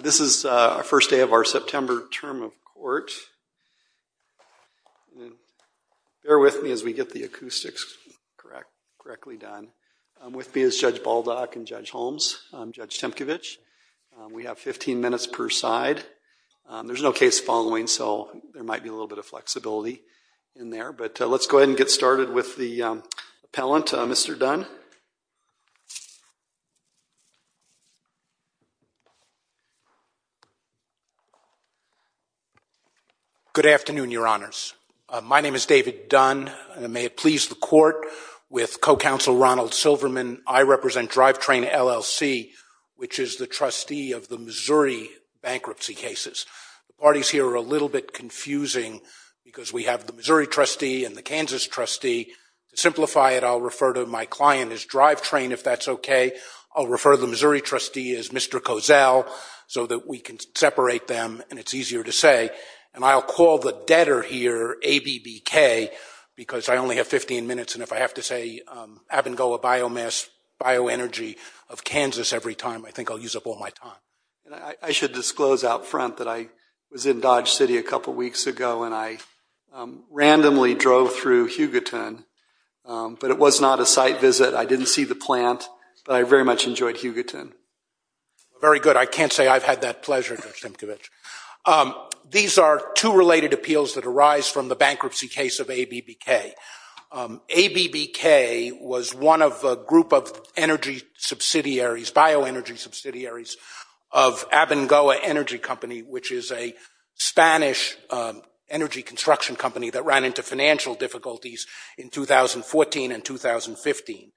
This is our first day of our September term of court. Bear with me as we get the acoustics correctly done. With me is Judge Baldock and Judge Holmes, Judge Temkevich. We have 15 minutes per side. There's no case following, so there might be a little bit of flexibility in there. But let's go ahead and get started with the appellant, Mr. Dunn. Good afternoon, Your Honors. My name is David Dunn, and may it please the court, with co-counsel Ronald Silverman. I represent Drivetrain LLC, which is the trustee of the Missouri bankruptcy cases. The parties here are a little bit confusing because we have the Missouri trustee and the Kansas trustee. To simplify it, I'll refer to my client as Drivetrain if that's OK. I'll refer to the Missouri trustee as Mr. Kozel. So that we can separate them, and it's easier to say. And I'll call the debtor here ABBK, because I only have 15 minutes. And if I have to say, Abengoa Biomass Bioenergy of Kansas every time, I think I'll use up all my time. I should disclose out front that I was in Dodge City a couple of weeks ago, and I randomly drove through Hugaton. But it was not a site visit. I didn't see the plant, but I very much enjoyed Hugaton. Very good. I can't say I've had that pleasure, Judge Temkevich. These are two related appeals that arise from the bankruptcy case of ABBK. ABBK was one of a group of energy subsidiaries, bioenergy subsidiaries, of Abengoa Energy Company, which is a Spanish energy construction company that ran into financial difficulties in 2014 and 2015.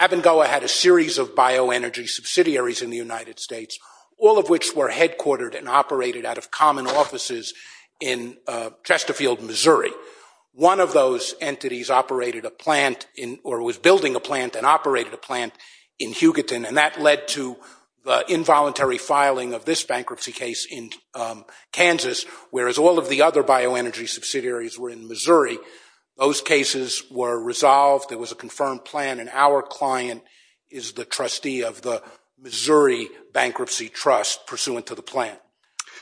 Abengoa had a series of bioenergy subsidiaries in the United States, all of which were headquartered and operated out of common offices in Chesterfield, Missouri. One of those entities operated a plant, or was building a plant, and operated a plant in Hugaton. And that led to the involuntary filing of this bankruptcy case in Kansas, whereas all of the other bioenergy subsidiaries were in Missouri. Those cases were resolved. There was a confirmed plan, and our client is the trustee of the Missouri Bankruptcy Trust, pursuant to the plan.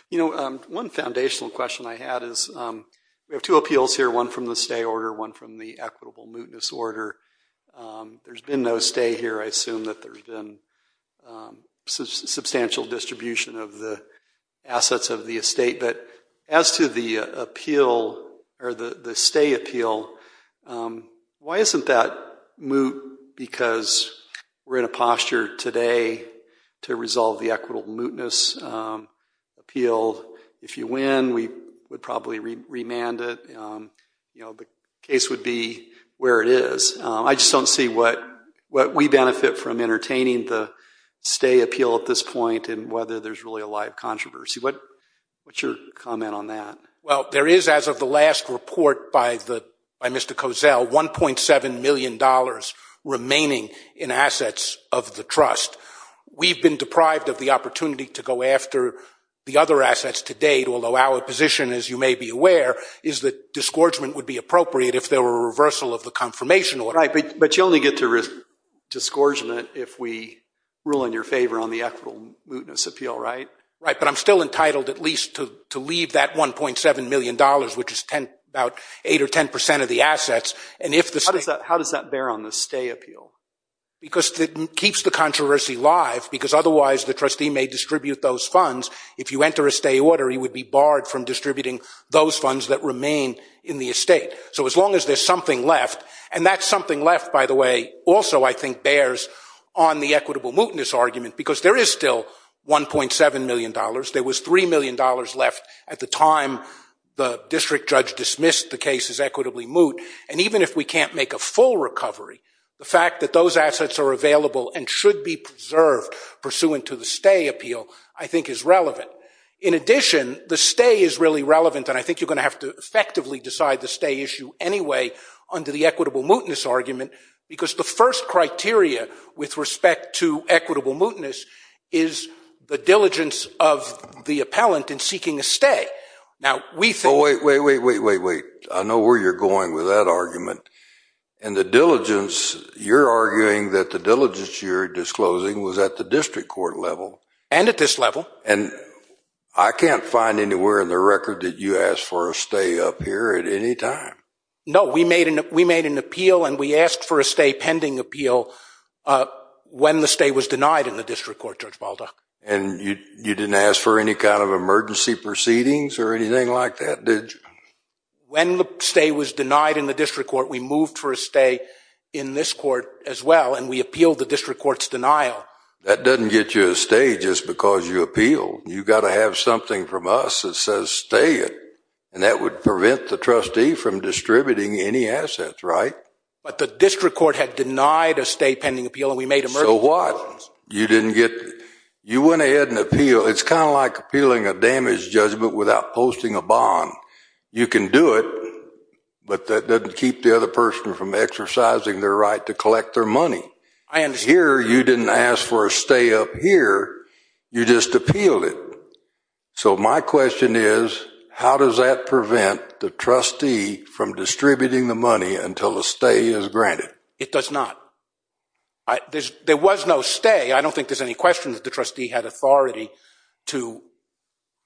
You know, one foundational question I had is, we have two appeals here, one from the stay order, one from the equitable mootness order. There's been no stay here. I assume that there's been substantial distribution of the assets of the estate. But as to the appeal, or the stay appeal, why isn't that moot? Because we're in a posture today to resolve the equitable mootness appeal. If you win, we would probably remand it. You know, the case would be where it is. I just don't see what we benefit from entertaining the stay appeal at this point, and whether there's really a live controversy. What's your comment on that? Well, there is, as of the last report by Mr. Cozell, $1.7 million remaining in assets of the trust. We've been deprived of the opportunity to go after the other assets to date, although our position, as you may be aware, is that disgorgement would be appropriate if there were a reversal of the confirmation order. But you only get to risk disgorgement if we rule in your favor on the equitable mootness appeal, right? Right, but I'm still entitled, at least, to leave that $1.7 million, which is about 8% or 10% of the assets. And if the state- How does that bear on the stay appeal? Because it keeps the controversy live, because otherwise the trustee may distribute those funds. If you enter a stay order, he would be barred from distributing those funds that remain in the estate. So as long as there's something left, and that something left, by the way, also I think bears on the equitable mootness argument, because there is still $1.7 million. There was $3 million left at the time the district judge dismissed the case as equitably moot. And even if we can't make a full recovery, the fact that those assets are available and should be preserved pursuant to the stay appeal, I think, is relevant. In addition, the stay is really relevant, and I think you're going to have to effectively decide the stay issue anyway under the equitable mootness argument, because the first criteria with respect to equitable mootness is the diligence of the appellant in seeking a stay. Now, we think- Wait, wait, wait, wait, wait, wait. I know where you're going with that argument. And the diligence, you're arguing that the diligence you're disclosing was at the district court level. And at this level. And I can't find anywhere in the record that you asked for a stay up here at any time. No, we made an appeal, and we asked for a stay And you didn't ask for any kind of emergency proceedings or anything like that, did you? When the stay was denied in the district court, we moved for a stay in this court as well, and we appealed the district court's denial. That doesn't get you a stay just because you appealed. You've got to have something from us that says stay it. And that would prevent the trustee from distributing any assets, right? But the district court had denied a stay pending appeal, and we made a- So what? You didn't get, you went ahead and appealed. It's kind of like appealing a damage judgment without posting a bond. You can do it, but that doesn't keep the other person from exercising their right to collect their money. I understand. Here, you didn't ask for a stay up here. You just appealed it. So my question is, how does that prevent the trustee from distributing the money until a stay is granted? It does not. There was no stay. I don't think there's any question that the trustee had authority to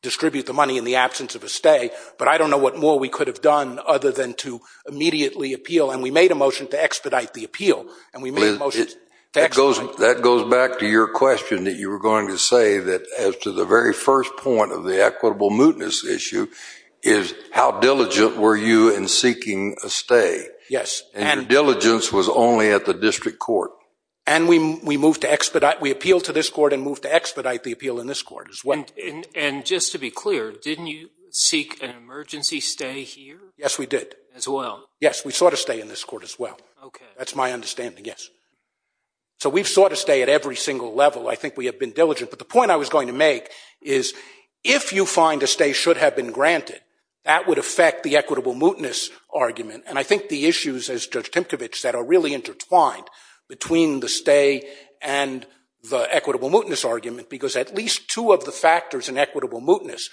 distribute the money in the absence of a stay, but I don't know what more we could have done other than to immediately appeal, and we made a motion to expedite the appeal, and we made a motion to expedite. That goes back to your question that you were going to say that as to the very first point of the equitable mootness issue is how diligent were you in seeking a stay? Yes, and- In the district court. And we moved to expedite. We appealed to this court and moved to expedite the appeal in this court as well. And just to be clear, didn't you seek an emergency stay here? Yes, we did. As well. Yes, we sought a stay in this court as well. Okay. That's my understanding, yes. So we've sought a stay at every single level. I think we have been diligent, but the point I was going to make is if you find a stay should have been granted, that would affect the equitable mootness argument, and I think the issues, as Judge Timkovich said, are really intertwined between the stay and the equitable mootness argument, because at least two of the factors in equitable mootness,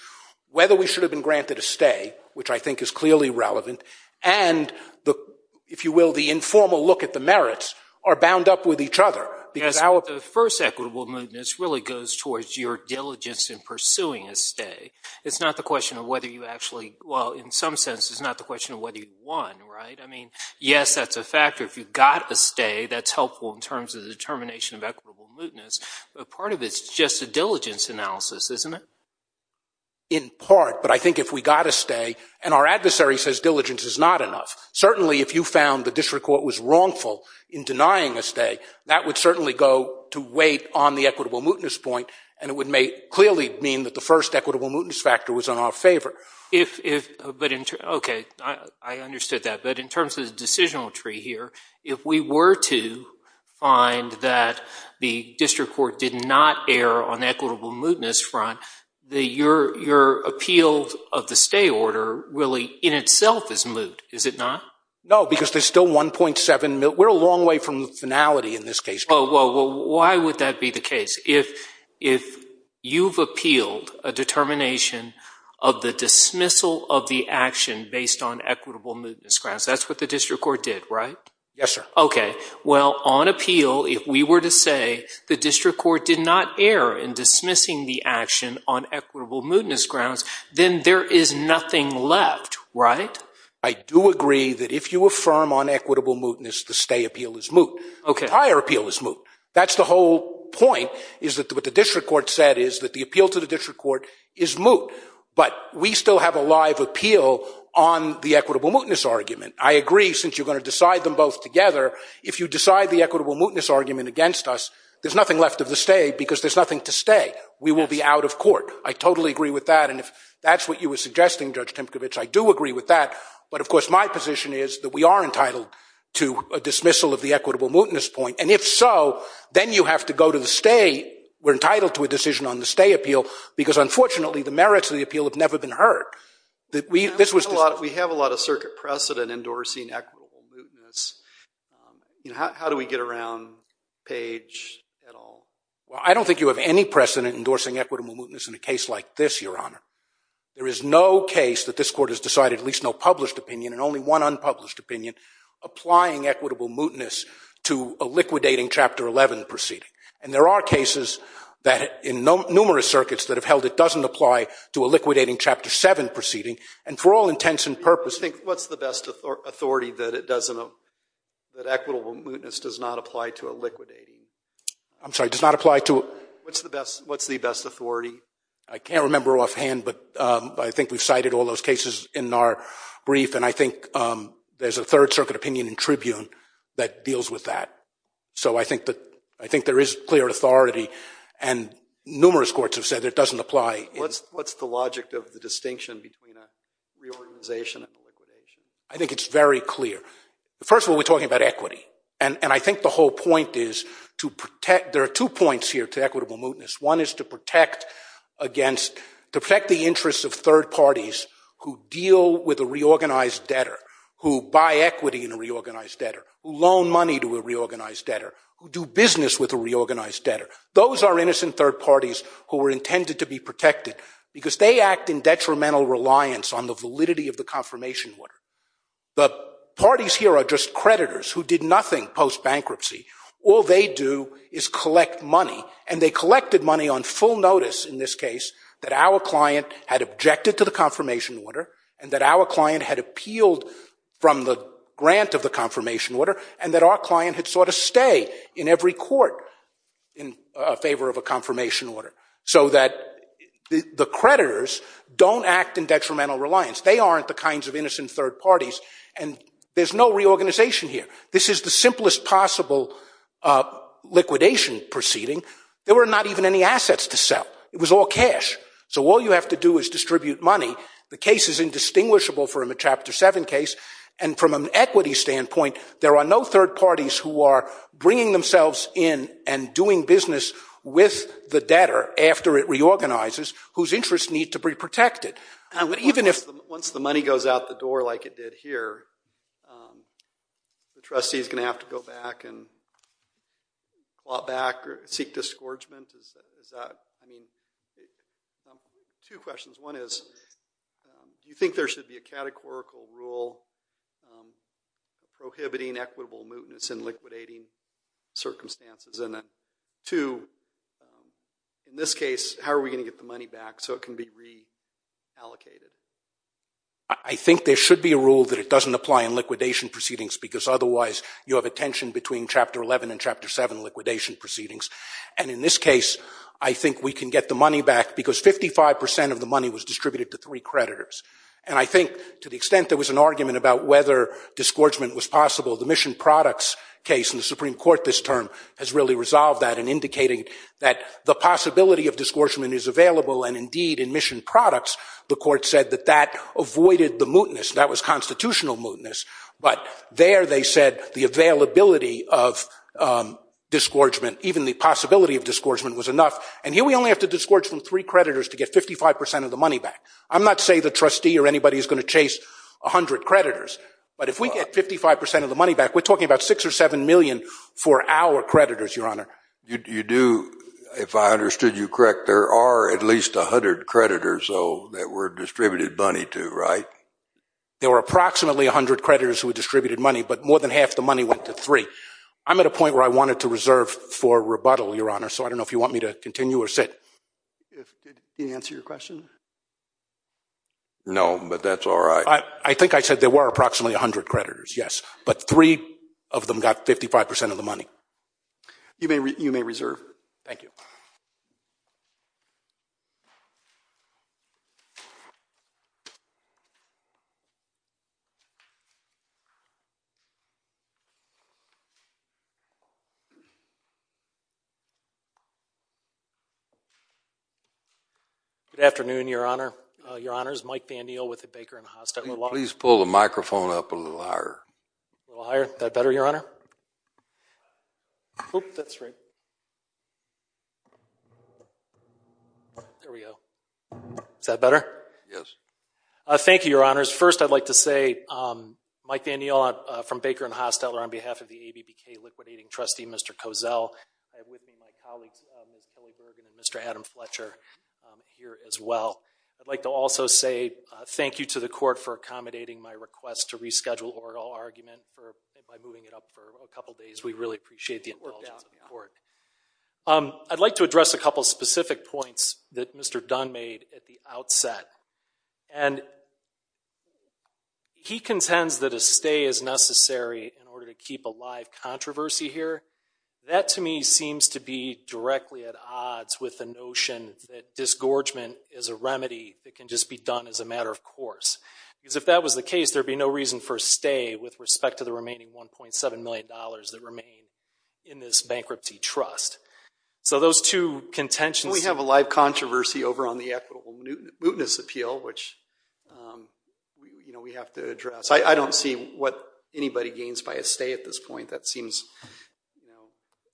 whether we should have been granted a stay, which I think is clearly relevant, and the, if you will, the informal look at the merits, are bound up with each other. Yes, the first equitable mootness really goes towards your diligence in pursuing a stay. It's not the question of whether you actually, well, in some sense, it's not the question of whether you won, right? I mean, yes, that's a factor. If you got a stay, that's helpful in terms of the determination of equitable mootness, but part of it's just a diligence analysis, isn't it? In part, but I think if we got a stay, and our adversary says diligence is not enough, certainly if you found the district court was wrongful in denying a stay, that would certainly go to wait on the equitable mootness point, and it would make, clearly mean that the first equitable mootness factor was in our favor. If, but in, okay, I understood that, but in terms of the decisional tree here, if we were to find that the district court did not err on equitable mootness front, the, your appeal of the stay order really in itself is moot, is it not? No, because there's still 1.7, we're a long way from finality in this case. Oh, well, why would that be the case? If you've appealed a determination of the dismissal of the action based on equitable mootness grounds, that's what the district court did, right? Yes, sir. Okay, well, on appeal, if we were to say the district court did not err in dismissing the action on equitable mootness grounds, then there is nothing left, right? I do agree that if you affirm on equitable mootness, the stay appeal is moot, the higher appeal is moot. That's the whole point, is that what the district court said is that the appeal to the district court is moot, but we still have a live appeal on the equitable mootness argument. I agree, since you're gonna decide them both together, if you decide the equitable mootness argument against us, there's nothing left of the stay because there's nothing to stay. We will be out of court. I totally agree with that. And if that's what you were suggesting, Judge Timkovich, I do agree with that. But of course, my position is that we are entitled to a dismissal of the equitable mootness point. And if so, then you have to go to the stay, we're entitled to a decision on the stay appeal because, unfortunately, the merits of the appeal have never been heard. We have a lot of circuit precedent endorsing equitable mootness. How do we get around Page at all? Well, I don't think you have any precedent endorsing equitable mootness in a case like this, Your Honor. There is no case that this court has decided, at least no published opinion, and only one unpublished opinion, applying equitable mootness to a liquidating Chapter 11 proceeding. And there are cases that, in numerous circuits, that have held it doesn't apply to a liquidating Chapter 7 proceeding. And for all intents and purposes- What's the best authority that it doesn't, that equitable mootness does not apply to a liquidating? I'm sorry, does not apply to- What's the best authority? I can't remember offhand, but I think we've cited all those cases in our brief. And I think there's a Third Circuit opinion in Tribune that deals with that. So I think there is clear authority, and numerous courts have said that it doesn't apply. What's the logic of the distinction between a reorganization and a liquidation? I think it's very clear. First of all, we're talking about equity. And I think the whole point is to protect, there are two points here to equitable mootness. One is to protect against, to protect the interests of third parties who deal with a reorganized debtor, who buy equity in a reorganized debtor, who loan money to a reorganized debtor, who do business with a reorganized debtor. Those are innocent third parties who were intended to be protected because they act in detrimental reliance on the validity of the confirmation order. The parties here are just creditors who did nothing post-bankruptcy. All they do is collect money, and they collected money on full notice in this case that our client had objected to the confirmation order and that our client had appealed from the grant of the confirmation order and that our client had sought to stay in every court in favor of a confirmation order so that the creditors don't act in detrimental reliance. They aren't the kinds of innocent third parties. And there's no reorganization here. This is the simplest possible liquidation proceeding. There were not even any assets to sell. It was all cash. So all you have to do is distribute money. The case is indistinguishable from a Chapter 7 case. And from an equity standpoint, there are no third parties who are bringing themselves in and doing business with the debtor after it reorganizes whose interests need to be protected. Even if- Once the money goes out the door like it did here, the trustee's gonna have to go back and claw back or seek disgorgement. Is that, I mean, two questions. One is, do you think there should be a categorical rule prohibiting equitable mootness in liquidating circumstances? And then two, in this case, how are we gonna get the money back so it can be reallocated? I think there should be a rule that it doesn't apply in liquidation proceedings because otherwise you have a tension between Chapter 11 and Chapter 7 liquidation proceedings. And in this case, I think we can get the money back because 55% of the money was distributed to three creditors. And I think to the extent there was an argument about whether disgorgement was possible, the Mission Products case in the Supreme Court this term has really resolved that in indicating that the possibility of disgorgement is available and indeed in Mission Products, the court said that that avoided the mootness. That was constitutional mootness. But there they said the availability of disgorgement, even the possibility of disgorgement was enough. And here we only have to disgorge from three creditors to get 55% of the money back. I'm not saying the trustee or anybody is gonna chase 100 creditors. But if we get 55% of the money back, we're talking about six or 7 million for our creditors, Your Honor. You do, if I understood you correct, there are at least 100 creditors though that were distributed money to, right? There were approximately 100 creditors who were distributed money, but more than half the money went to three. I'm at a point where I wanted to reserve for rebuttal, Your Honor. So I don't know if you want me to continue or sit. If, did he answer your question? No, but that's all right. I think I said there were approximately 100 creditors, yes. But three of them got 55% of the money. You may reserve. Thank you. Good afternoon, Your Honor, Your Honors. Mike Van Deel with the Baker and Hostetler Law Firm. Please pull the microphone up a little higher. A little higher, is that better, Your Honor? Oop, that's right. There we go. Is that better? Yes. Thank you, Your Honors. First, I'd like to say, Mike Van Deel from Baker and Hostetler on behalf I have with me my colleague, Mr. Cozell, my colleague, Ms. Kelly Bergen, and Mr. Adam Fletcher here as well. I'd like to also say thank you to the court for accommodating my request to reschedule oral argument by moving it up for a couple days. We really appreciate the indulgence of the court. I'd like to address a couple specific points that Mr. Dunn made at the outset. And he contends that a stay is necessary in order to keep a live controversy here. That, to me, seems to be directly at odds with the notion that disgorgement is a remedy that can just be done as a matter of course. Because if that was the case, there'd be no reason for a stay with respect to the remaining $1.7 million that remain in this bankruptcy trust. So those two contentions- We have a live controversy over on the equitable mootness appeal, which we have to address. I don't see what anybody gains by a stay at this point. That seems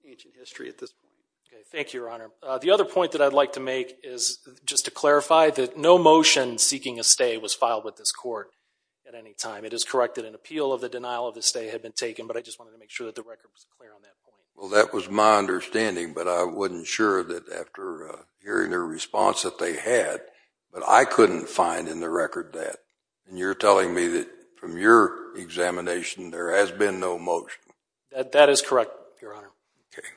ancient history at this point. Okay, thank you, Your Honor. The other point that I'd like to make is just to clarify that no motion seeking a stay was filed with this court at any time. It is correct that an appeal of the denial of the stay had been taken, but I just wanted to make sure that the record was clear on that point. Well, that was my understanding, but I wasn't sure that after hearing the response that they had, but I couldn't find in the record that. And you're telling me that from your examination, there has been no motion? That is correct, Your Honor. Okay.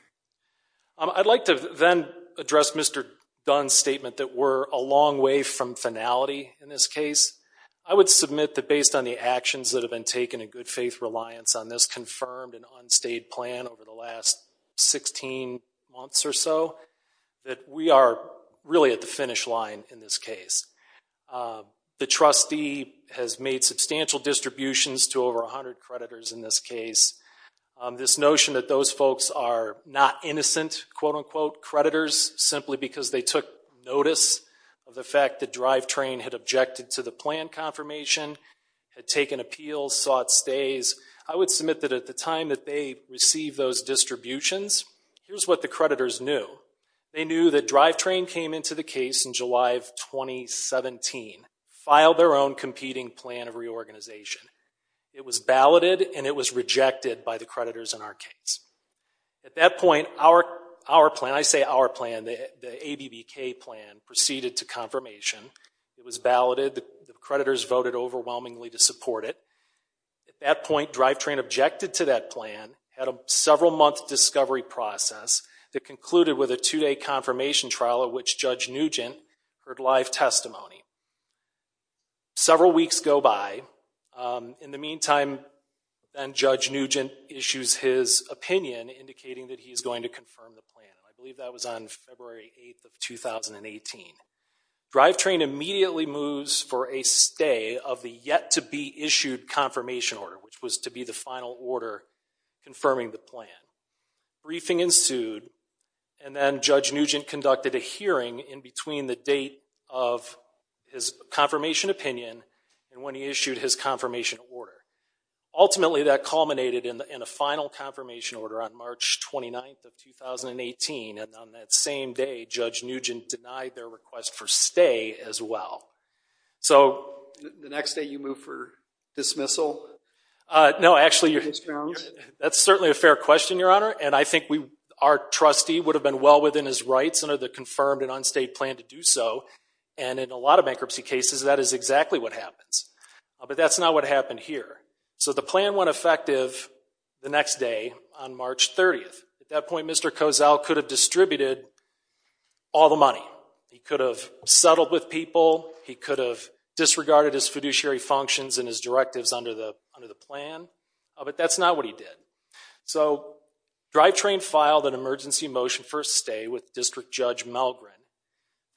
I'd like to then address Mr. Dunn's statement that we're a long way from finality in this case. I would submit that based on the actions that have been taken and good faith reliance on this confirmed and unstayed plan over the last 16 months or so, that we are really at the finish line in this case. The trustee has made substantial distributions to over 100 creditors in this case. This notion that those folks are not innocent, quote unquote creditors, simply because they took notice of the fact that Drivetrain had objected to the plan confirmation, had taken appeals, sought stays. I would submit that at the time that they received those distributions, here's what the creditors knew. They knew that Drivetrain came into the case in July of 2017, filed their own competing plan of reorganization. It was balloted and it was rejected by the creditors in our case. At that point, our plan, I say our plan, the ABBK plan proceeded to confirmation. It was balloted, the creditors voted overwhelmingly to support it. At that point, Drivetrain objected to that plan, had a several month discovery process that concluded with a two day confirmation trial at which Judge Nugent heard live testimony. Several weeks go by. In the meantime, then Judge Nugent issues his opinion indicating that he's going to confirm the plan. I believe that was on February 8th of 2018. Drivetrain immediately moves for a stay of the yet to be issued confirmation order, which was to be the final order confirming the plan. Briefing ensued and then Judge Nugent conducted a hearing in between the date of his confirmation opinion and when he issued his confirmation order. Ultimately, that culminated in a final confirmation order on March 29th of 2018 and on that same day, Judge Nugent denied their request for stay as well. So, the next day you move for dismissal? No, actually, that's certainly a fair question, Your Honor, and I think our trustee would have been well on the state plan to do so and in a lot of bankruptcy cases, that is exactly what happens. But that's not what happened here. So, the plan went effective the next day on March 30th. At that point, Mr. Kozell could have distributed all the money. He could have settled with people, he could have disregarded his fiduciary functions and his directives under the plan, but that's not what he did. So, Drivetrain filed an emergency motion for a stay with District Judge Melgrin.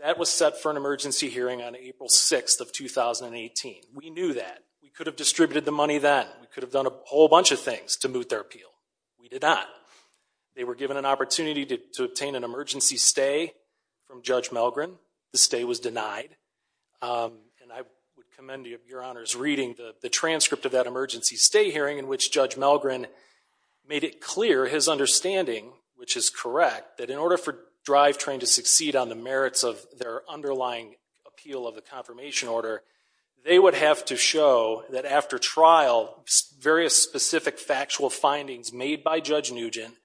That was set for an emergency hearing on April 6th of 2018. We knew that. We could have distributed the money then. We could have done a whole bunch of things to moot their appeal. We did not. They were given an opportunity to obtain an emergency stay from Judge Melgrin. The stay was denied and I would commend Your Honor's reading the transcript of that emergency stay hearing in which Judge Melgrin made it clear his understanding, which is correct, that in order for Drivetrain to succeed on the merits of their underlying appeal of the confirmation order, they would have to show that after trial, various specific factual findings made by Judge Nugent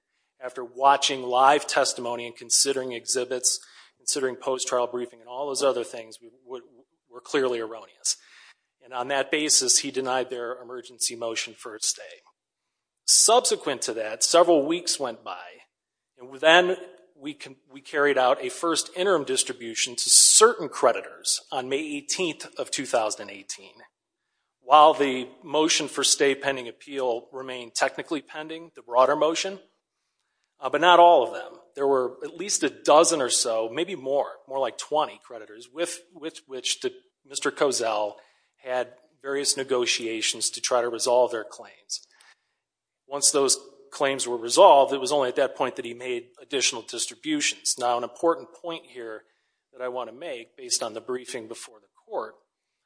after watching live testimony and considering exhibits, considering post-trial briefing and all those other things were clearly erroneous. And on that basis, he denied their emergency motion for a stay. Subsequent to that, several weeks went by and then we carried out a first interim distribution to certain creditors on May 18th of 2018. While the motion for stay pending appeal remained technically pending, the broader motion, but not all of them. There were at least a dozen or so, maybe more, more like 20 creditors with which Mr. Kozel had various negotiations to try to resolve their claims. Once those claims were resolved, it was only at that point that he made additional distributions. Now, an important point here that I wanna make based on the briefing before the court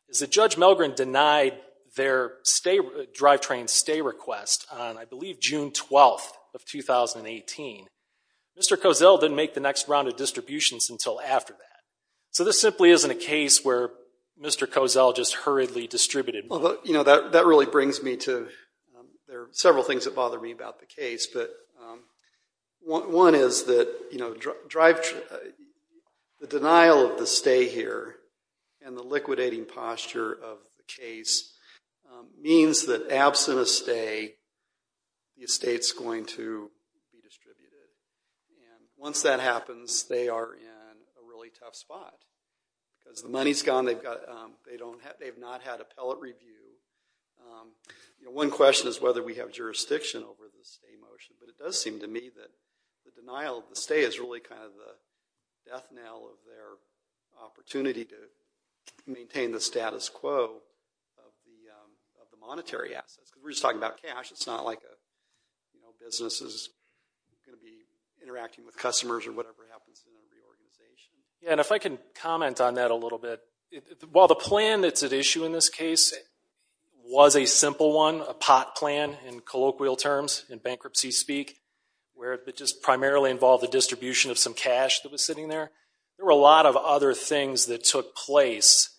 is that Judge Melgrin denied their Drivetrain stay request on, I believe, June 12th of 2018. Mr. Kozel didn't make the next round of distributions until after that. So this simply isn't a case where Mr. Kozel just hurriedly distributed. Well, that really brings me to, there are several things that bother me about the case, but one is that the denial of the stay here and the liquidating posture of the case means that absent a stay, the estate's going to be distributed. And once that happens, they are in a really tough spot because the money's gone, they've not had appellate review. One question is whether we have jurisdiction over the stay motion, but it does seem to me that the denial of the stay is really kind of the death knell of their opportunity to maintain the status quo of the monetary assets. it's not like a business is gonna be interacting with customers or whatever happens in every organization. Yeah, and if I can comment on that a little bit. While the plan that's at issue in this case was a simple one, a pot plan in colloquial terms, in bankruptcy speak, where it just primarily involved the distribution of some cash that was sitting there, there were a lot of other things that took place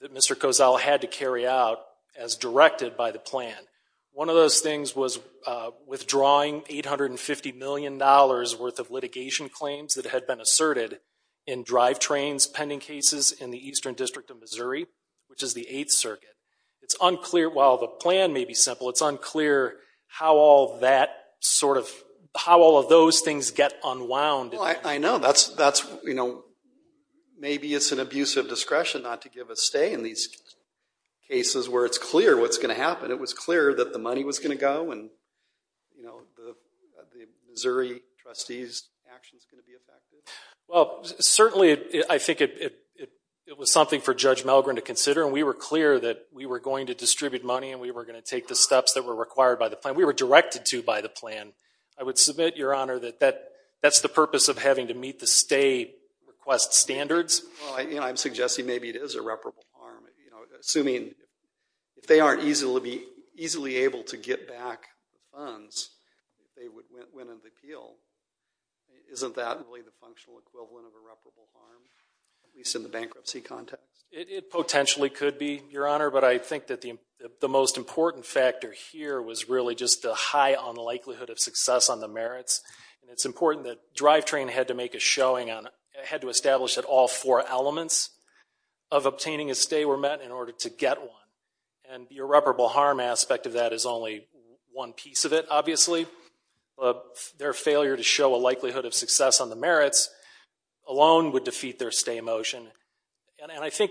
that Mr. Kozel had to carry out as directed by the plan. One of those things was withdrawing $850 million worth of litigation claims that had been asserted in drive trains pending cases in the Eastern District of Missouri, which is the Eighth Circuit. It's unclear, while the plan may be simple, it's unclear how all of those things get unwound. I know, maybe it's an abuse of discretion not to give a stay in these cases where it's clear what's gonna happen. It was clear that the money was gonna go and the Missouri trustee's action's gonna be affected. Well, certainly, I think it was something for Judge Melgren to consider, and we were clear that we were going to distribute money and we were gonna take the steps that were required by the plan. We were directed to by the plan. I would submit, Your Honor, that that's the purpose of having to meet the stay request standards. Well, I'm suggesting maybe it is a reparable harm, assuming if they aren't easily able to get back the funds, they would win an appeal. Isn't that really the functional equivalent of a reparable harm, at least in the bankruptcy context? It potentially could be, Your Honor, but I think that the most important factor here was really just the high on likelihood of success on the merits. And it's important that drive train had to make a showing on, had to establish that all four elements of obtaining a stay were met in order to get one. And the irreparable harm aspect of that is only one piece of it, obviously, but their failure to show a likelihood of success on the merits alone would defeat their stay motion. And I think,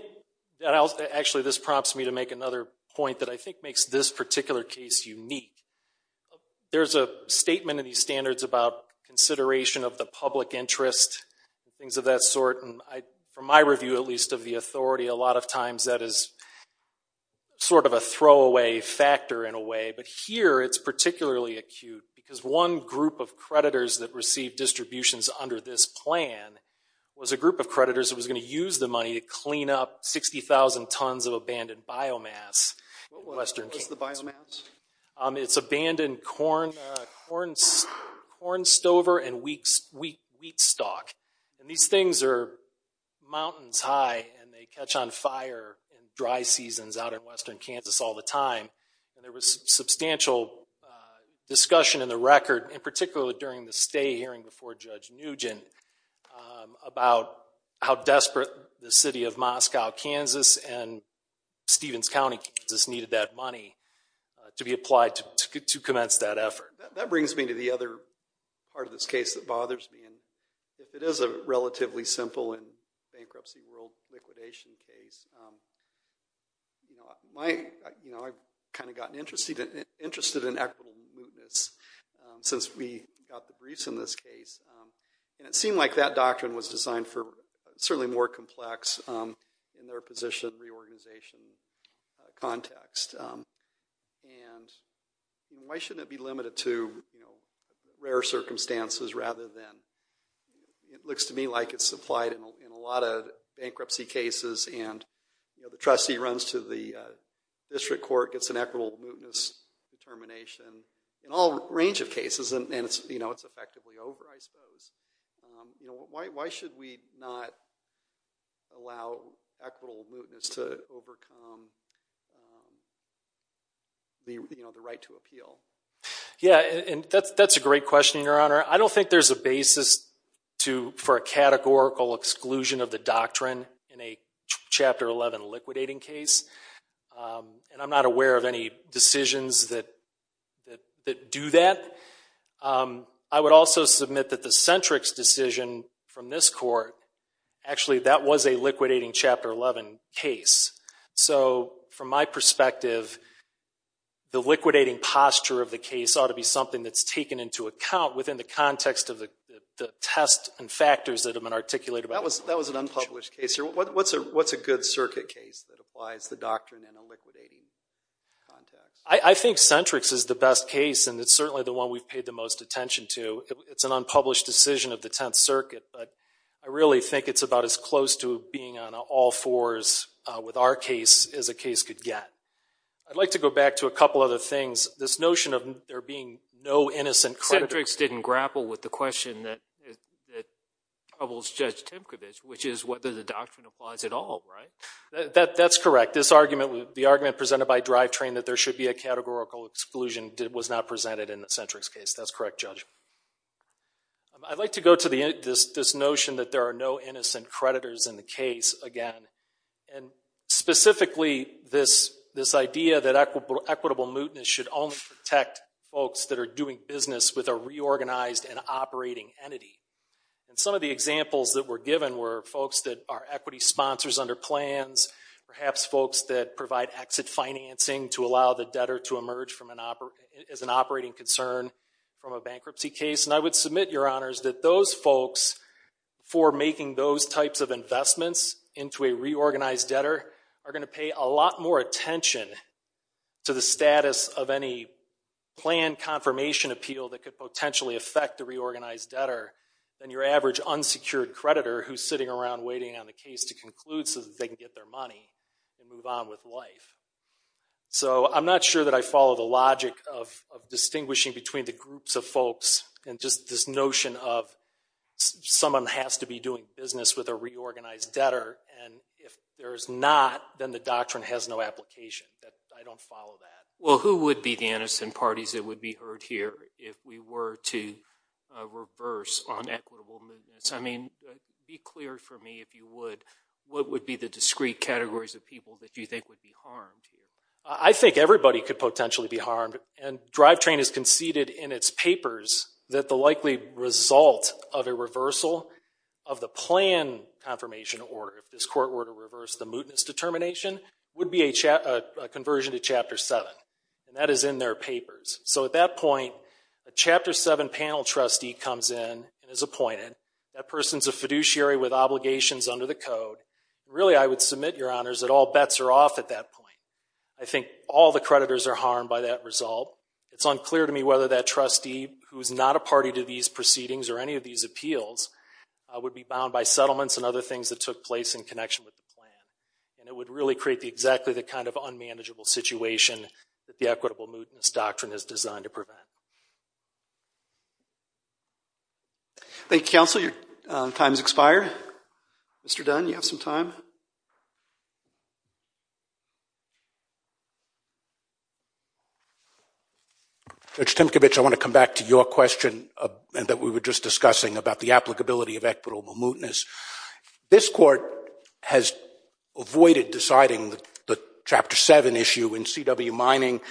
actually, this prompts me to make another point that I think makes this particular case unique. There's a statement in these standards about consideration of the public interest, things of that sort, and from my review, at least of the authority, a lot of times that is sort of a throwaway factor, in a way. But here, it's particularly acute because one group of creditors that received distributions under this plan was a group of creditors that was gonna use the money to clean up 60,000 tons of abandoned biomass. What was the biomass? It's abandoned corn stover and wheat stalk. And these things are mountains high and they catch on fire in dry seasons out in western Kansas all the time. And there was substantial discussion in the record, in particular during the stay hearing before Judge Nugent, about how desperate the city of Moscow, Kansas, and Stevens County, Kansas, needed that money to be applied to commence that effort. That brings me to the other part of this case that bothers me, and it is a relatively simple and bankruptcy world liquidation case. I've kind of gotten interested in equitable mootness since we got the briefs in this case. And it seemed like that doctrine was designed for certainly more complex, in their position, reorganization context. And why shouldn't it be limited to rare circumstances, rather than, it looks to me like it's applied in a lot of bankruptcy cases, and the trustee runs to the district court, gets an equitable mootness determination, in all range of cases, and it's effectively over, I suppose. Why should we not allow equitable mootness to overcome the right to appeal? Yeah, and that's a great question, Your Honor. I don't think there's a basis for a categorical exclusion of the doctrine in a Chapter 11 liquidating case. And I'm not aware of any decisions that do that. I would also submit that the Centrix decision from this court, actually, that was a liquidating Chapter 11 case. So, from my perspective, the liquidating posture of the case ought to be something that's taken into account within the context of the test and factors that have been articulated. That was an unpublished case. What's a good circuit case that applies the doctrine in a liquidating context? I think Centrix is the best case, and it's certainly the one we've paid the most attention to. It's an unpublished decision of the Tenth Circuit, but I really think it's about as close to being on all fours with our case as a case could get. I'd like to go back to a couple other things. This notion of there being no innocent creditors. Centrix didn't grapple with the question that troubles Judge Timkovich, which is whether the doctrine applies at all, right? That's correct. This argument, the argument presented by Drivetrain that there should be a categorical exclusion was not presented in the Centrix case. That's correct, Judge. I'd like to go to this notion that there are no innocent creditors in the case, again. And specifically, this idea that equitable mootness should only protect folks that are doing business with a reorganized and operating entity. And some of the examples that were given were folks that are equity sponsors under plans, perhaps folks that provide exit financing to allow the debtor to emerge as an operating concern from a bankruptcy case. And I would submit, Your Honors, that those folks for making those types of investments into a reorganized debtor are gonna pay a lot more attention to the status of any planned confirmation appeal that could potentially affect the reorganized debtor than your average unsecured creditor who's sitting around waiting on the case to conclude so that they can get their money and move on with life. So I'm not sure that I follow the logic of distinguishing between the groups of folks and just this notion of someone has to be doing business with a reorganized debtor. And if there's not, then the doctrine has no application. I don't follow that. Well, who would be the innocent parties that would be heard here if we were to reverse on equitable mootness? I mean, be clear for me, if you would, what would be the discrete categories of people that you think would be harmed here? I think everybody could potentially be harmed. And Drivetrain has conceded in its papers that the likely result of a reversal of the plan confirmation order, if this court were to reverse the mootness determination, would be a conversion to Chapter 7. And that is in their papers. So at that point, a Chapter 7 panel trustee comes in and is appointed. That person's a fiduciary with obligations under the code. Really, I would submit, Your Honors, that all bets are off at that point. I think all the creditors are harmed by that result. It's unclear to me whether that trustee who's not a party to these proceedings or any of these appeals would be bound by settlements and other things that took place in connection with the plan. And it would really create exactly the kind of unmanageable situation that the equitable mootness doctrine is designed to prevent. Thank you, Counsel. Your time has expired. Mr. Dunn, you have some time. Judge Timkovich, I want to come back to your question that we were just discussing about the applicability of equitable mootness. This Court has avoided deciding the Chapter 7 issue in CW Mining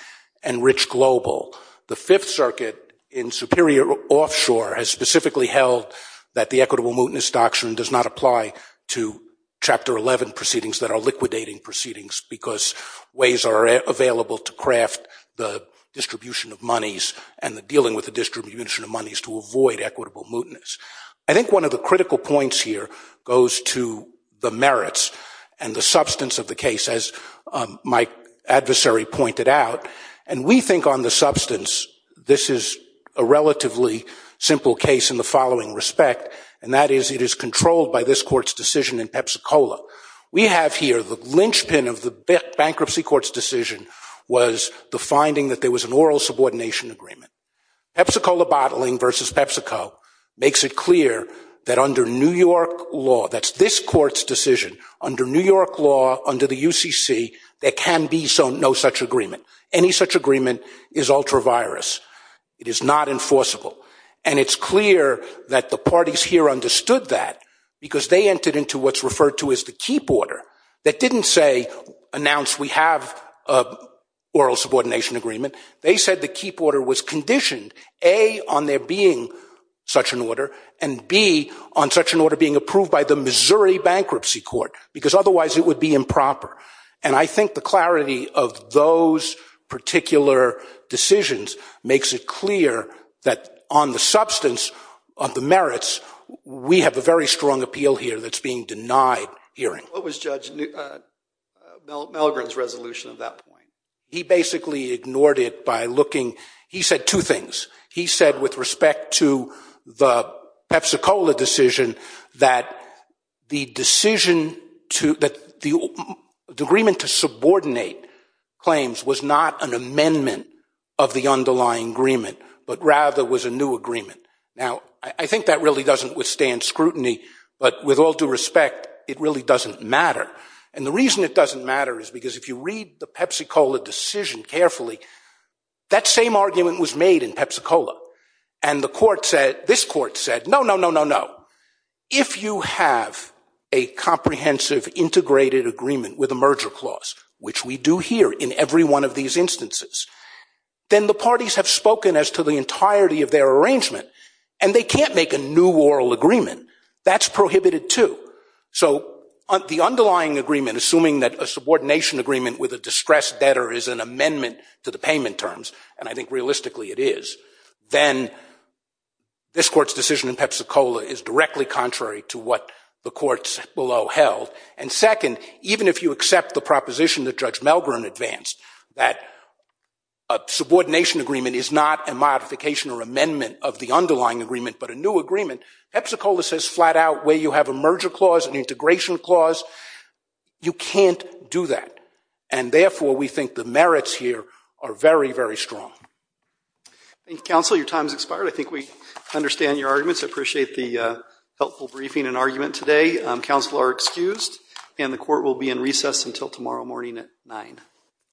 and Rich Global. The Fifth Circuit in Superior Offshore has specifically held that the equitable mootness doctrine does not apply to Chapter 11 proceedings because ways are available to craft the distribution of monies and the dealing with the distribution of monies to avoid equitable mootness. I think one of the critical points here goes to the merits and the substance of the case as my adversary pointed out. And we think on the substance, this is a relatively simple case in the following respect, and that is it is controlled by this Court's decision in Pepsi-Cola. We have here the linchpin of the bankruptcy court's decision was the finding that there was an oral subordination agreement. Pepsi-Cola bottling versus PepsiCo makes it clear that under New York law, that's this Court's decision, under New York law, under the UCC, there can be no such agreement. Any such agreement is ultra-virus. It is not enforceable. And it's clear that the parties here understood that because they entered into what's referred to as the keep order that didn't say, announce we have oral subordination agreement, they said the keep order was conditioned, A, on there being such an order, and B, on such an order being approved by the Missouri Bankruptcy Court because otherwise it would be improper. And I think the clarity of those particular decisions makes it clear that on the substance of the merits, we have a very strong appeal here that's being denied hearing. What was Judge Milgren's resolution at that point? He basically ignored it by looking, he said two things. He said with respect to the Pepsi-Cola decision that the decision to, that the agreement to subordinate claims was not an amendment of the underlying agreement, but rather was a new agreement. Now, I think that really doesn't withstand scrutiny, but with all due respect, it really doesn't matter. And the reason it doesn't matter is because if you read the Pepsi-Cola decision carefully, that same argument was made in Pepsi-Cola. And the court said, this court said, no, no, no, no, no. If you have a comprehensive integrated agreement with a merger clause, which we do here in every one of these instances, then the parties have spoken as to the entirety of their arrangement, and they can't make a new oral agreement. That's prohibited too. So the underlying agreement, assuming that a subordination agreement with a distressed debtor is an amendment to the payment terms, and I think realistically it is, then this court's decision in Pepsi-Cola is directly contrary to what the courts below held. And second, even if you accept the proposition that Judge Melgren advanced, that a subordination agreement is not a modification or amendment of the underlying agreement, but a new agreement, Pepsi-Cola says flat out where you have a merger clause, an integration clause, you can't do that. And therefore, we think the merits here are very, very strong. Thank you, counsel. Your time's expired. I think we understand your arguments. I appreciate the helpful briefing and argument today. Counsel are excused, and the court will be in recess until tomorrow morning at nine.